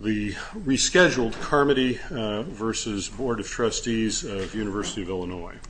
The rescheduled Carmody v. Board of Trustees of the University of Illinois. Mr.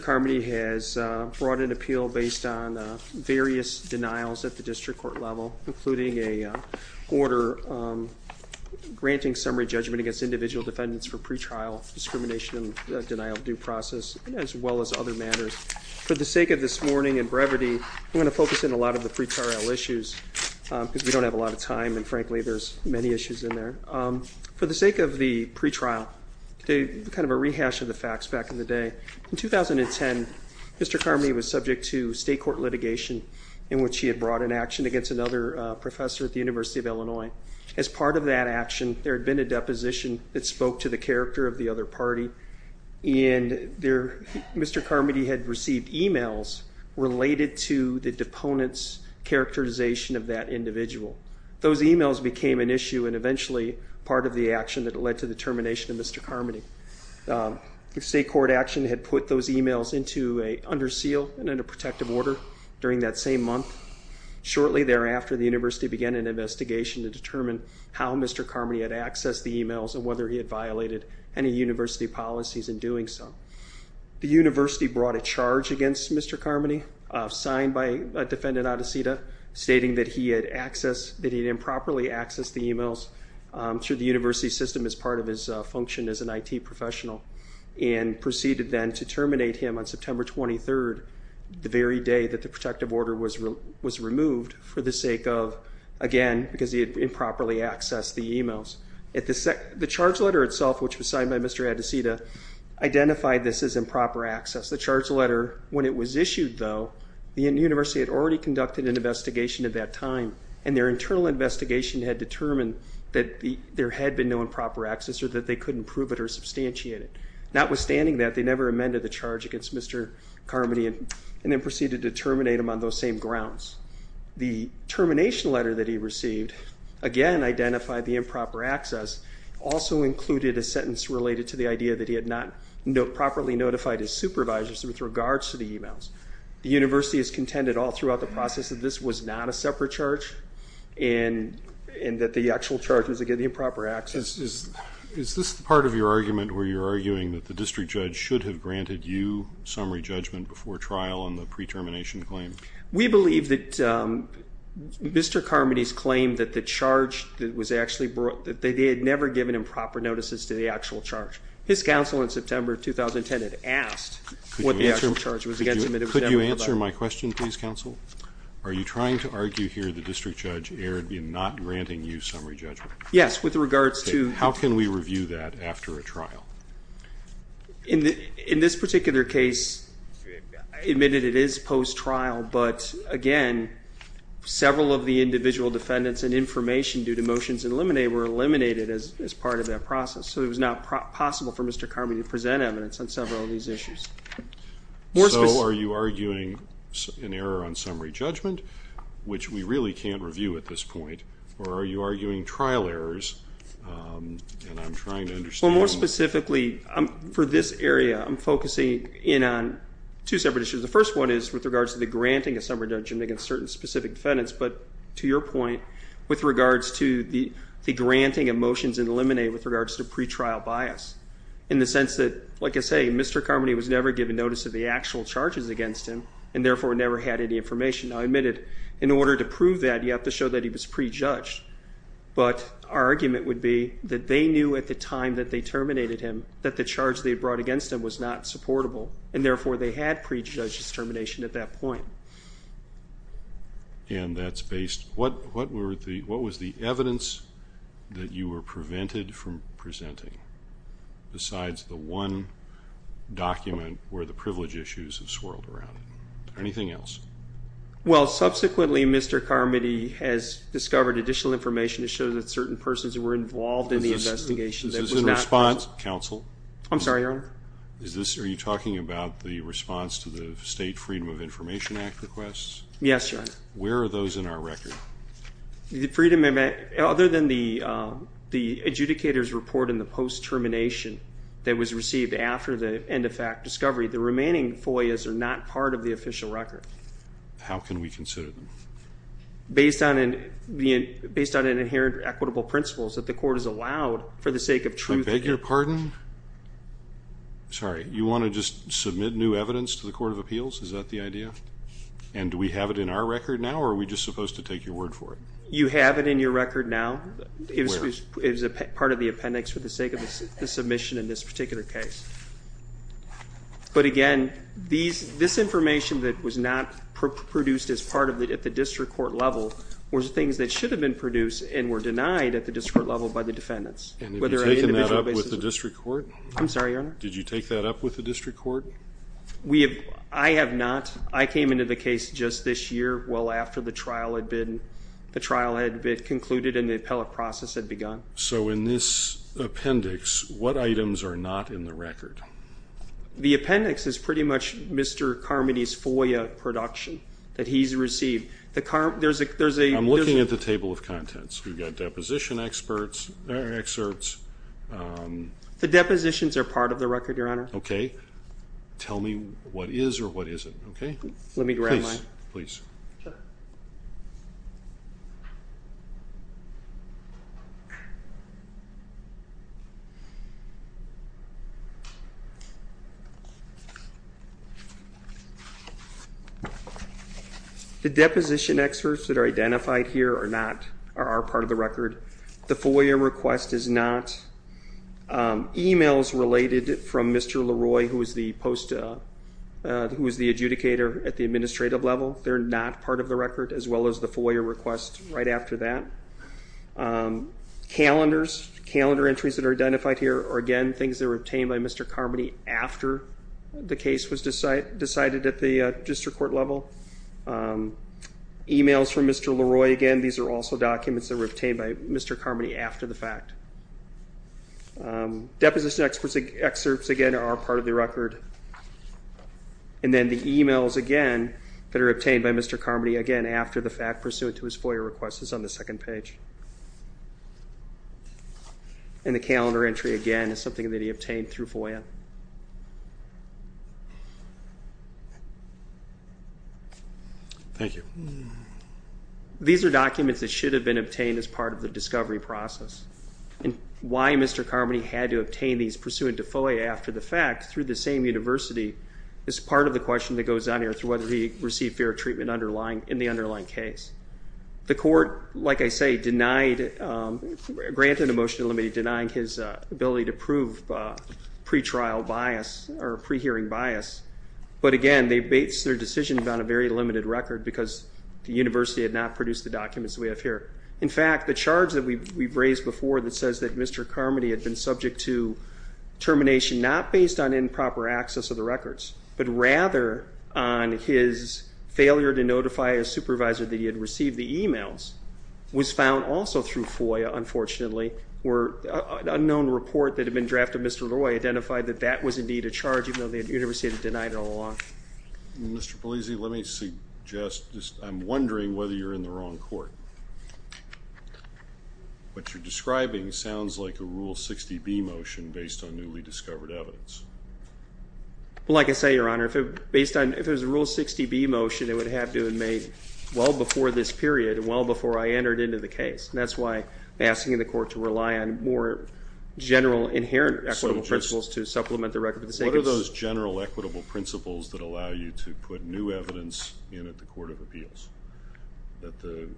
Carmody has brought an appeal based on various denials at the district court level, including a order granting summary judgment against individuals who have violated the statute of limitations of the University of Illinois. For the sake of this morning and brevity, I'm going to focus on a lot of the pre-trial issues because we don't have a lot of time and frankly there's many issues in there. For the sake of the pre-trial, kind of a rehash of the facts back in the day, in 2010, Mr. Carmody was subject to state court litigation in which he had brought an action against another professor at the University of Illinois. As part of that action, there had been a deposition that specified that Mr. Carmody had violated the statute of limitations of the University of Illinois. He spoke to the character of the other party and Mr. Carmody had received emails related to the deponent's characterization of that individual. Those emails became an issue and eventually part of the action that led to the termination of Mr. Carmody. The state court action had put those emails under seal and under protective order during that same month. Shortly thereafter, the University began an investigation to determine how Mr. Carmody had accessed the emails and whether he had violated any University policies in doing so. The University brought a charge against Mr. Carmody, signed by Defendant Adesita, stating that he had improperly accessed the emails through the University system as part of his function as an IT professional. It proceeded then to terminate him on September 23rd, the very day that the protective order was removed for the sake of, again, because he had improperly accessed the emails. The charge letter itself, which was signed by Mr. Adesita, identified this as improper access. The charge letter, when it was issued though, the University had already conducted an investigation at that time and their internal investigation had determined that there had been no improper access or that they couldn't prove it or substantiate it. Notwithstanding that, they never amended the charge against Mr. Carmody and then proceeded to terminate him on those same grounds. The termination letter that he received, again, identified the improper access, also included a sentence related to the idea that he had not properly notified his supervisors with regards to the emails. The University has contended all throughout the process that this was not a separate charge and that the actual charge was, again, the improper access. Is this part of your argument where you're arguing that the district judge should have granted you summary judgment before trial on the pre-termination claim? We believe that Mr. Carmody's claim that the charge that was actually brought, that they had never given improper notices to the actual charge. His counsel in September of 2010 had asked what the actual charge was against him. Could you answer my question, please, counsel? Are you trying to argue here the district judge erred in not granting you summary judgment? Yes, with regards to... How can we review that after a trial? In this particular case, admitted it is post-trial, but, again, several of the individual defendants and information due to motions in limine were eliminated as part of that process. So it was not possible for Mr. Carmody to present evidence on several of these issues. So are you arguing an error on summary judgment, which we really can't review at this point, or are you arguing trial errors, and I'm trying to understand... Well, more specifically, for this area, I'm focusing in on two separate issues. The first one is with regards to the granting of summary judgment against certain specific defendants, but, to your point, with regards to the granting of motions in limine with regards to pretrial bias, in the sense that, like I say, Mr. Carmody was never given notice of the actual charges against him and, therefore, never had any information. Now, I admit it, in order to prove that, you have to show that he was prejudged. But our argument would be that they knew at the time that they terminated him that the charge they brought against him was not supportable, and, therefore, they had prejudged his termination at that point. And that's based... What was the evidence that you were prevented from presenting, besides the one document where the privilege issues have swirled around? Anything else? Well, subsequently, Mr. Carmody has discovered additional information that shows that certain persons were involved in the investigation that was not... Is this in response, counsel? I'm sorry, Your Honor? Are you talking about the response to the State Freedom of Information Act requests? Yes, Your Honor. Where are those in our record? Other than the adjudicator's report in the post-termination that was received after the end-of-fact discovery, the remaining FOIAs are not part of the official record. How can we consider them? Based on an inherent equitable principles that the court has allowed for the sake of truth... I beg your pardon? Sorry. You want to just submit new evidence to the Court of Appeals? Is that the idea? And do we have it in our record now, or are we just supposed to take your word for it? You have it in your record now. Where? It was part of the appendix for the sake of the submission in this particular case. But, again, this information that was not produced as part of it at the district court level was things that should have been produced and were denied at the district court level by the defendants. And have you taken that up with the district court? I'm sorry, Your Honor? Did you take that up with the district court? I have not. I came into the case just this year well after the trial had been concluded and the appellate process had begun. So in this appendix, what items are not in the record? The appendix is pretty much Mr. Carmody's FOIA production that he's received. I'm looking at the table of contents. We've got deposition excerpts. The depositions are part of the record, Your Honor. Okay. Tell me what is or what isn't, okay? Let me grab mine. Please. Sure. The deposition excerpts that are identified here are not, are part of the record. The FOIA request is not. Emails related from Mr. Leroy, who is the post, who is the adjudicator at the administrative level, they're not part of the record, as well as the FOIA request right after that. Calendars, calendar entries that are identified here are, again, things that were obtained by Mr. Carmody after the case was decided at the district court level. Emails from Mr. Leroy, again, these are also documents that were obtained by Mr. Carmody after the fact. Deposition excerpts, again, are part of the record. And then the emails, again, that are obtained by Mr. Carmody, again, after the fact pursuant to his FOIA request is on the second page. And the calendar entry, again, is something that he obtained through FOIA. Thank you. These are documents that should have been obtained as part of the discovery process. And why Mr. Carmody had to obtain these pursuant to FOIA after the fact, through the same university, is part of the question that goes on here as to whether he received fair treatment in the underlying case. The court, like I say, granted a motion to limit it, denying his ability to prove pre-trial bias or pre-hearing bias. But, again, they based their decision on a very limited record because the university had not produced the documents we have here. In fact, the charge that we've raised before that says that Mr. Carmody had been subject to termination, not based on improper access of the records, but rather on his failure to notify his supervisor that he had received the emails, was found also through FOIA, unfortunately. An unknown report that had been drafted, Mr. Leroy identified that that was indeed a charge, even though the university had denied it all along. Mr. Polizzi, let me suggest, I'm wondering whether you're in the wrong court. What you're describing sounds like a Rule 60B motion based on newly discovered evidence. Well, like I say, Your Honor, based on, if it was a Rule 60B motion, it would have to have been made well before this period and well before I entered into the case. And that's why I'm asking the court to rely on more general, inherent, equitable principles to supplement the record. What are those general, equitable principles that allow you to put new evidence in at the Court of Appeals that the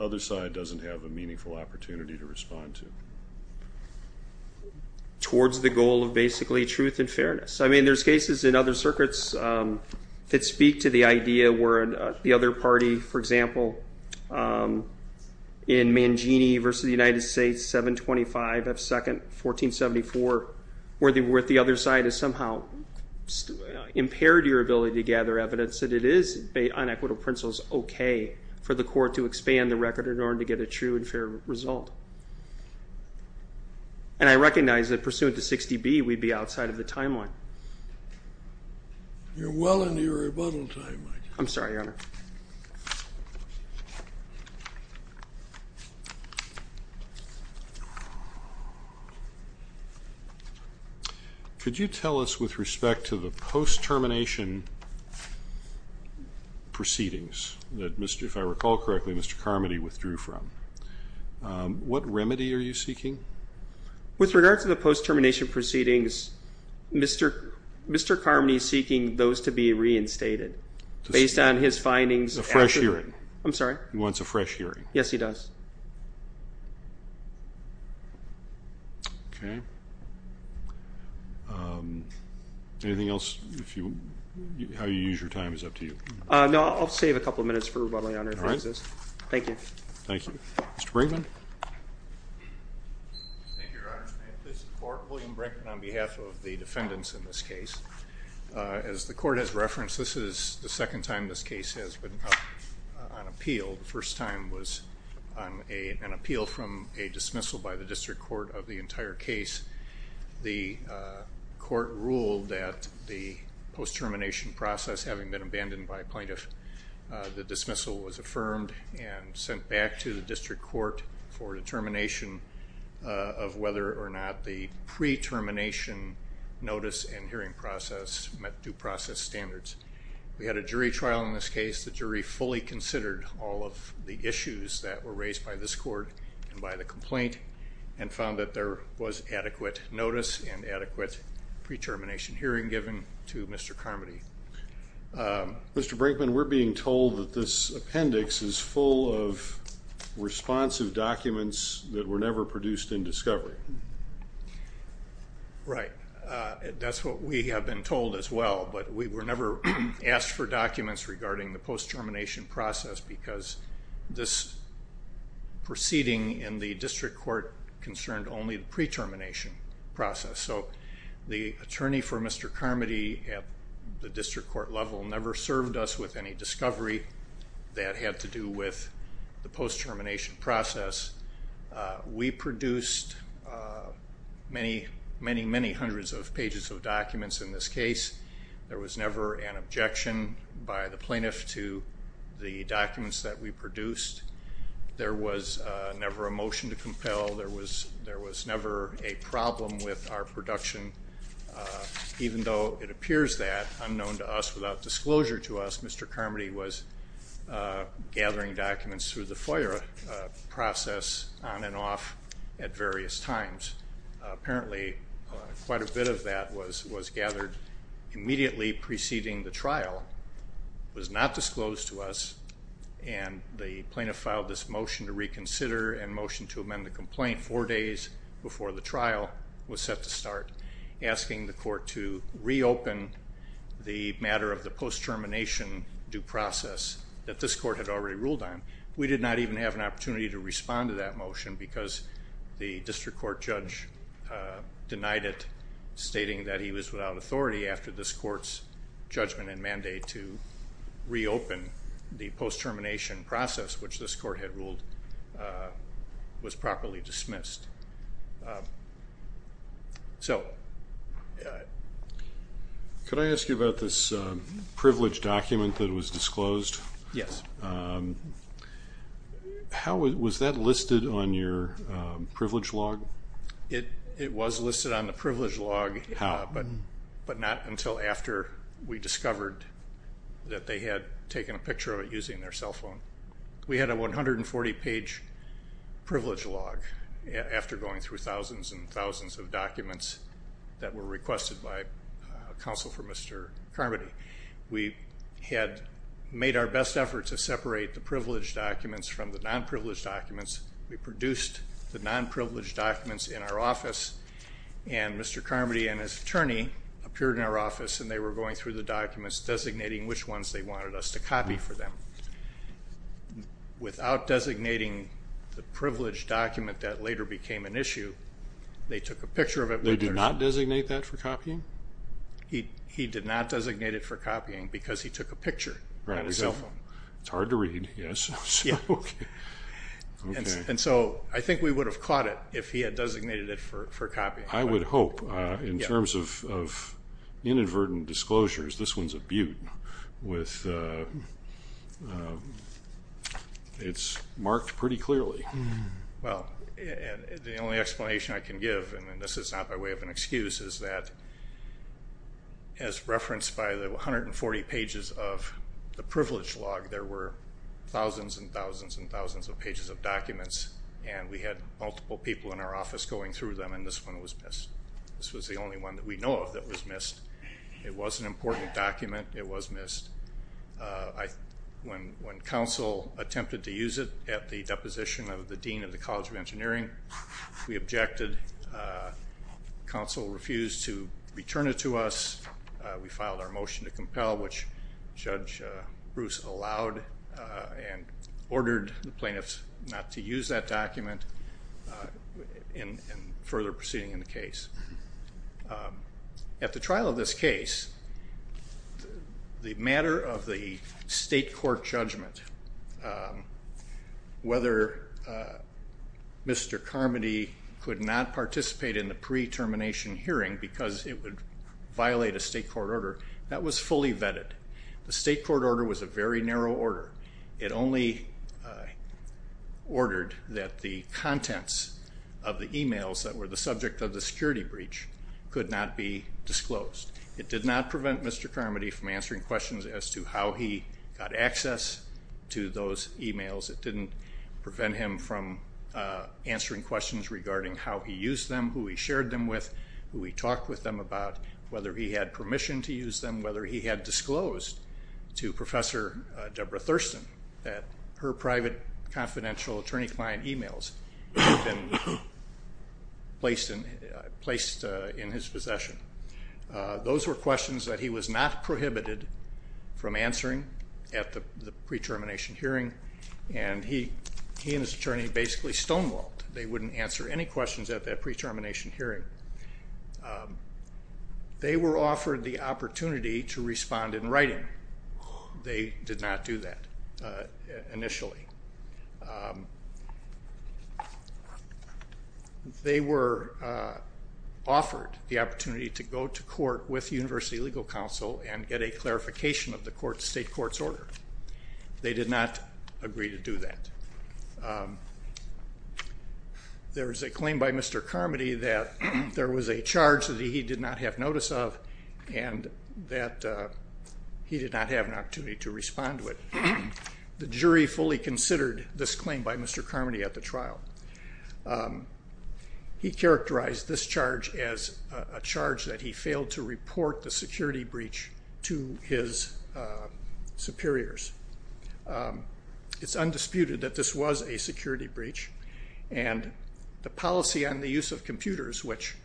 other side doesn't have a meaningful opportunity to respond to? Towards the goal of basically truth and fairness. I mean, there's cases in other circuits that speak to the idea where the other party, for example, in Mangini v. The United States, 725 F. 2nd, 1474, where the other side has somehow impaired your ability to gather evidence, that it is on equitable principles okay for the court to expand the record in order to get a true and fair result. And I recognize that pursuant to 60B, we'd be outside of the timeline. You're well into your rebuttal time, Mike. I'm sorry, Your Honor. Could you tell us, with respect to the post-termination proceedings that, if I recall correctly, Mr. Carmody withdrew from, what remedy are you seeking? With regard to the post-termination proceedings, Mr. Carmody is seeking those to be reinstated based on his findings. A fresh hearing. I'm sorry? He wants a fresh hearing. Yes, he does. Okay. Anything else? How you use your time is up to you. No, I'll save a couple of minutes for rebuttal, Your Honor. All right. Thank you. Thank you. Mr. Brinkman? Thank you, Your Honor. May I please support William Brinkman on behalf of the defendants in this case? As the court has referenced, this is the second time this case has been up on appeal. The first time was on an appeal from a dismissal by the district court of the entire case. The court ruled that the post-termination process, having been abandoned by a plaintiff, the dismissal was affirmed and sent back to the district court for determination of whether or not the pre-termination notice and hearing process met due process standards. We had a jury trial in this case. The jury fully considered all of the issues that were raised by this court and by the complaint and found that there was adequate notice and adequate pre-termination hearing given to Mr. Carmody. Mr. Brinkman, we're being told that this appendix is full of responsive documents that were never produced in discovery. Right. That's what we have been told as well, but we were never asked for documents regarding the post-termination process because this proceeding in the district court concerned only the pre-termination process. So the attorney for Mr. Carmody at the district court level never served us with any discovery that had to do with the post-termination process. We produced many, many, many hundreds of pages of documents in this case. There was never an objection by the plaintiff to the documents that we produced. There was never a motion to compel. There was never a problem with our production. Even though it appears that, unknown to us, without disclosure to us, Mr. Carmody was gathering documents through the FOIA process on and off at various times. Apparently, quite a bit of that was gathered immediately preceding the trial. It was not disclosed to us, and the plaintiff filed this motion to reconsider and motion to amend the complaint four days before the trial was set to start, asking the court to reopen the matter of the post-termination due process that this court had already ruled on. We did not even have an opportunity to respond to that motion because the district court judge denied it, stating that he was without authority after this court's judgment and mandate to reopen the post-termination process, which this court had ruled was properly dismissed. Could I ask you about this privilege document that was disclosed? Yes. Was that listed on your privilege log? How? But not until after we discovered that they had taken a picture of it using their cell phone. We had a 140-page privilege log after going through thousands and thousands of documents that were requested by counsel for Mr. Carmody. We had made our best effort to separate the privilege documents from the non-privileged documents. We produced the non-privileged documents in our office, and Mr. Carmody and his attorney appeared in our office, and they were going through the documents designating which ones they wanted us to copy for them. Without designating the privilege document that later became an issue, they took a picture of it. They did not designate that for copying? He did not designate it for copying because he took a picture on his cell phone. It's hard to read, yes. I think we would have caught it if he had designated it for copying. I would hope. In terms of inadvertent disclosures, this one's a beaut. It's marked pretty clearly. The only explanation I can give, and this is not by way of an excuse, is that as referenced by the 140 pages of the privilege log, there were thousands and thousands and thousands of pages of documents, and we had multiple people in our office going through them, and this one was missed. This was the only one that we know of that was missed. It was an important document. It was missed. When counsel attempted to use it at the deposition of the dean of the College of Engineering, we objected. Counsel refused to return it to us. We filed our motion to compel, which Judge Bruce allowed and ordered the plaintiffs not to use that document, and further proceeding in the case. At the trial of this case, the matter of the state court judgment, whether Mr. Carmody could not participate in the pre-termination hearing because it would violate a state court order, that was fully vetted. The state court order was a very narrow order. It only ordered that the contents of the e-mails that were the subject of the security breach could not be disclosed. It did not prevent Mr. Carmody from answering questions as to how he got access to those e-mails. It didn't prevent him from answering questions regarding how he used them, who he shared them with, who he talked with them about, whether he had permission to use them, whether he had disclosed to Professor Deborah Thurston that her private confidential attorney client e-mails had been placed in his possession. Those were questions that he was not prohibited from answering at the pre-termination hearing, and he and his attorney basically stonewalled. They wouldn't answer any questions at that pre-termination hearing. They were offered the opportunity to respond in writing. They did not do that initially. They were offered the opportunity to go to court with the University Legal Council and get a clarification of the state court's order. They did not agree to do that. There is a claim by Mr. Carmody that there was a charge that he did not have notice of and that he did not have an opportunity to respond to it. The jury fully considered this claim by Mr. Carmody at the trial. He characterized this charge as a charge that he failed to report the security breach to his superiors. It's undisputed that this was a security breach, and the policy on the use of computers, which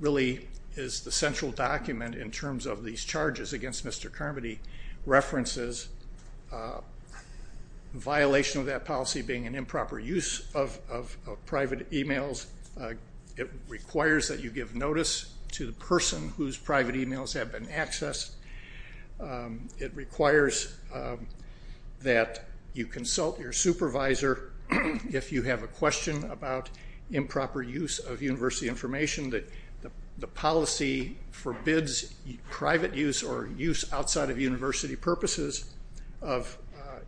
really is the central document in terms of these charges against Mr. Carmody, references violation of that policy being an improper use of private e-mails. It requires that you give notice to the person whose private e-mails have been accessed. It requires that you consult your supervisor if you have a question about improper use of university information, that the policy forbids private use or use outside of university purposes of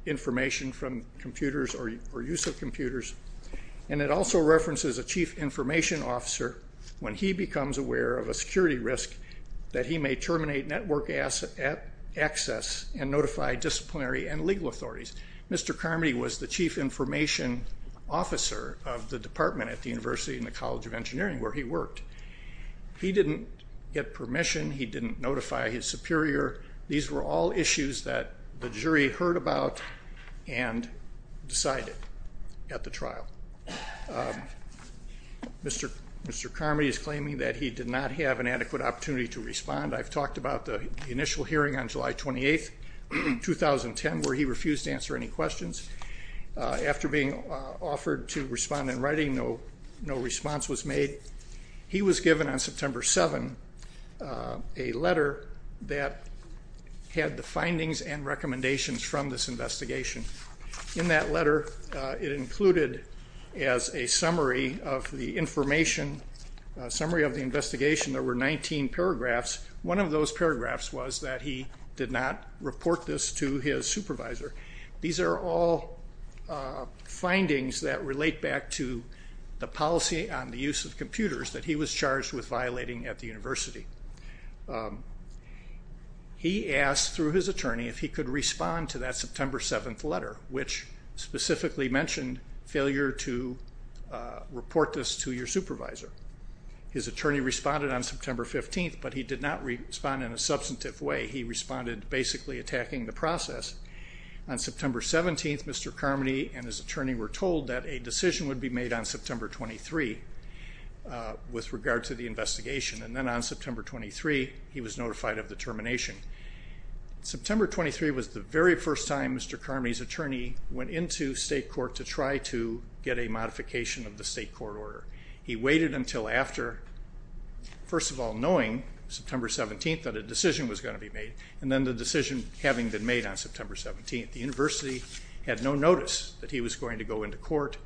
information from computers or use of computers. It also references a chief information officer when he becomes aware of a security risk that he may terminate network access and notify disciplinary and legal authorities. Mr. Carmody was the chief information officer of the department at the University and the College of Engineering where he worked. He didn't get permission. He didn't notify his superior. These were all issues that the jury heard about and decided at the trial. Mr. Carmody is claiming that he did not have an adequate opportunity to respond. I've talked about the initial hearing on July 28, 2010, where he refused to answer any questions. After being offered to respond in writing, no response was made. He was given on September 7 a letter that had the findings and recommendations from this investigation. In that letter, it included as a summary of the information, a summary of the investigation, there were 19 paragraphs. One of those paragraphs was that he did not report this to his supervisor. These are all findings that relate back to the policy on the use of computers that he was charged with violating at the university. He asked through his attorney if he could respond to that September 7 letter, which specifically mentioned failure to report this to your supervisor. His attorney responded on September 15, but he did not respond in a substantive way. He responded basically attacking the process. On September 17, Mr. Carmody and his attorney were told that a decision would be made on September 23 with regard to the investigation, and then on September 23, he was notified of the termination. September 23 was the very first time Mr. Carmody's attorney went into state court to try to get a modification of the state court order. He waited until after, first of all, knowing September 17 that a decision was going to be made, and then the decision having been made on September 17. The university had no notice that he was going to go into court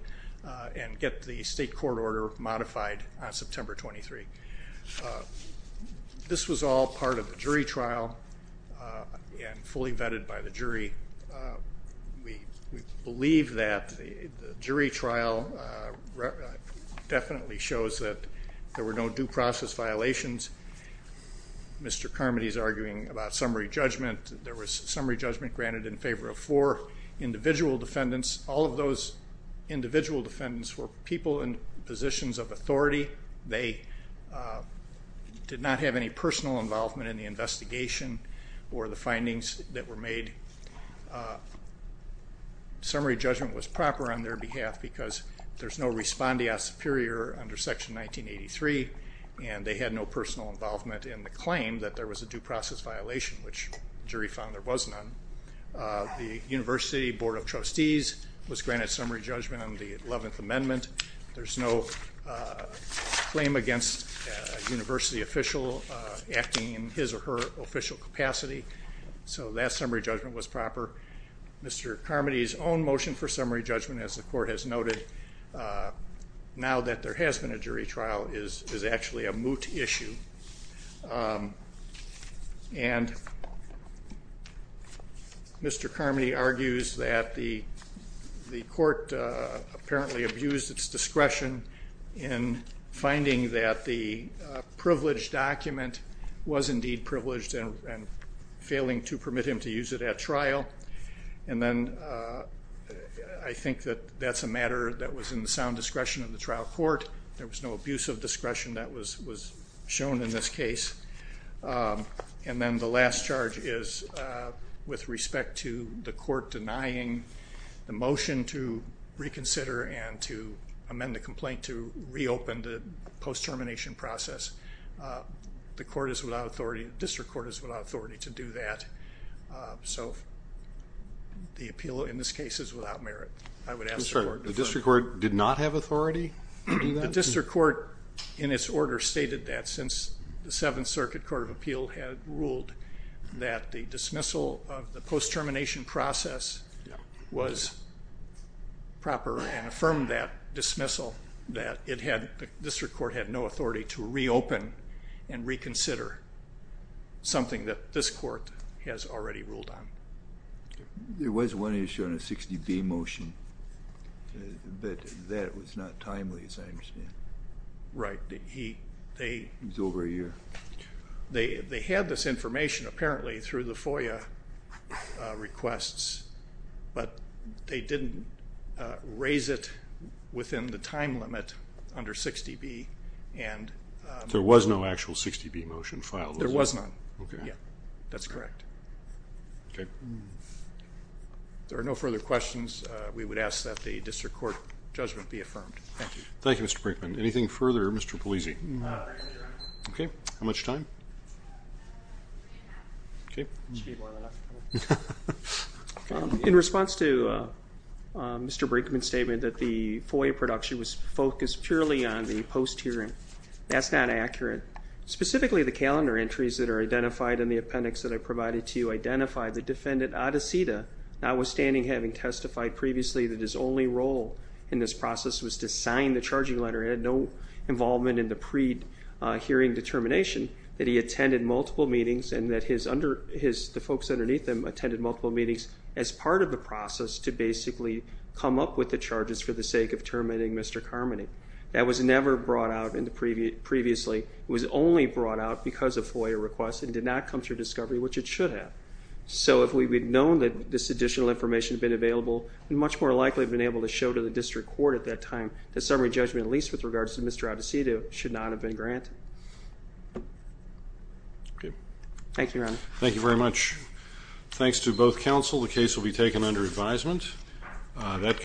and get the state court order modified on September 23. This was all part of the jury trial and fully vetted by the jury. We believe that the jury trial definitely shows that there were no due process violations. Mr. Carmody is arguing about summary judgment. There was summary judgment granted in favor of four individual defendants. All of those individual defendants were people in positions of authority. They did not have any personal involvement in the investigation or the findings that were made. Summary judgment was proper on their behalf because there's no respondeat superior under Section 1983, and they had no personal involvement in the claim that there was a due process violation, which the jury found there was none. The university board of trustees was granted summary judgment on the 11th Amendment. There's no claim against a university official acting in his or her official capacity, so that summary judgment was proper. Mr. Carmody's own motion for summary judgment, as the court has noted, now that there has been a jury trial, is actually a moot issue. And Mr. Carmody argues that the court apparently abused its discretion in finding that the privileged document was indeed privileged and failing to permit him to use it at trial. And then I think that that's a matter that was in the sound discretion of the trial court. There was no abuse of discretion that was shown in this case. And then the last charge is with respect to the court denying the motion to reconsider and to amend the complaint to reopen the post-termination process. The district court is without authority to do that. So the appeal in this case is without merit. The district court did not have authority to do that? The district court in its order stated that since the Seventh Circuit Court of Appeal had ruled that the dismissal of the post-termination process was proper and affirmed that dismissal that the district court had no authority to reopen and reconsider something that this court has already ruled on. There was one issue on a 60B motion, but that was not timely as I understand. Right. It was over a year. They had this information apparently through the FOIA requests, but they didn't raise it within the time limit under 60B and... There was no actual 60B motion filed. There was not. Okay. Yeah, that's correct. Okay. If there are no further questions, we would ask that the district court judgment be affirmed. Thank you. Thank you, Mr. Brinkman. Anything further? Mr. Polisi. Okay. How much time? Okay. In response to Mr. Brinkman's statement that the FOIA production was focused purely on the post-hearing, that's not accurate. Specifically, the calendar entries that are identified in the appendix that I provided to you identify the defendant, Adeseda, notwithstanding having testified previously that his only role in this process was to sign the charging letter and had no involvement in the pre-hearing determination, that he attended multiple meetings and that the folks underneath him attended multiple meetings as part of the process to basically come up with the charges for the sake of terminating Mr. Carmody. That was never brought out previously. It was only brought out because of FOIA requests and did not come through discovery, which it should have. So if we had known that this additional information had been available, we would much more likely have been able to show to the district court at that time that summary judgment, at least with regards to Mr. Adeseda, should not have been granted. Okay. Thank you, Your Honor. Thank you very much. Thanks to both counsel. The case will be taken under advisement.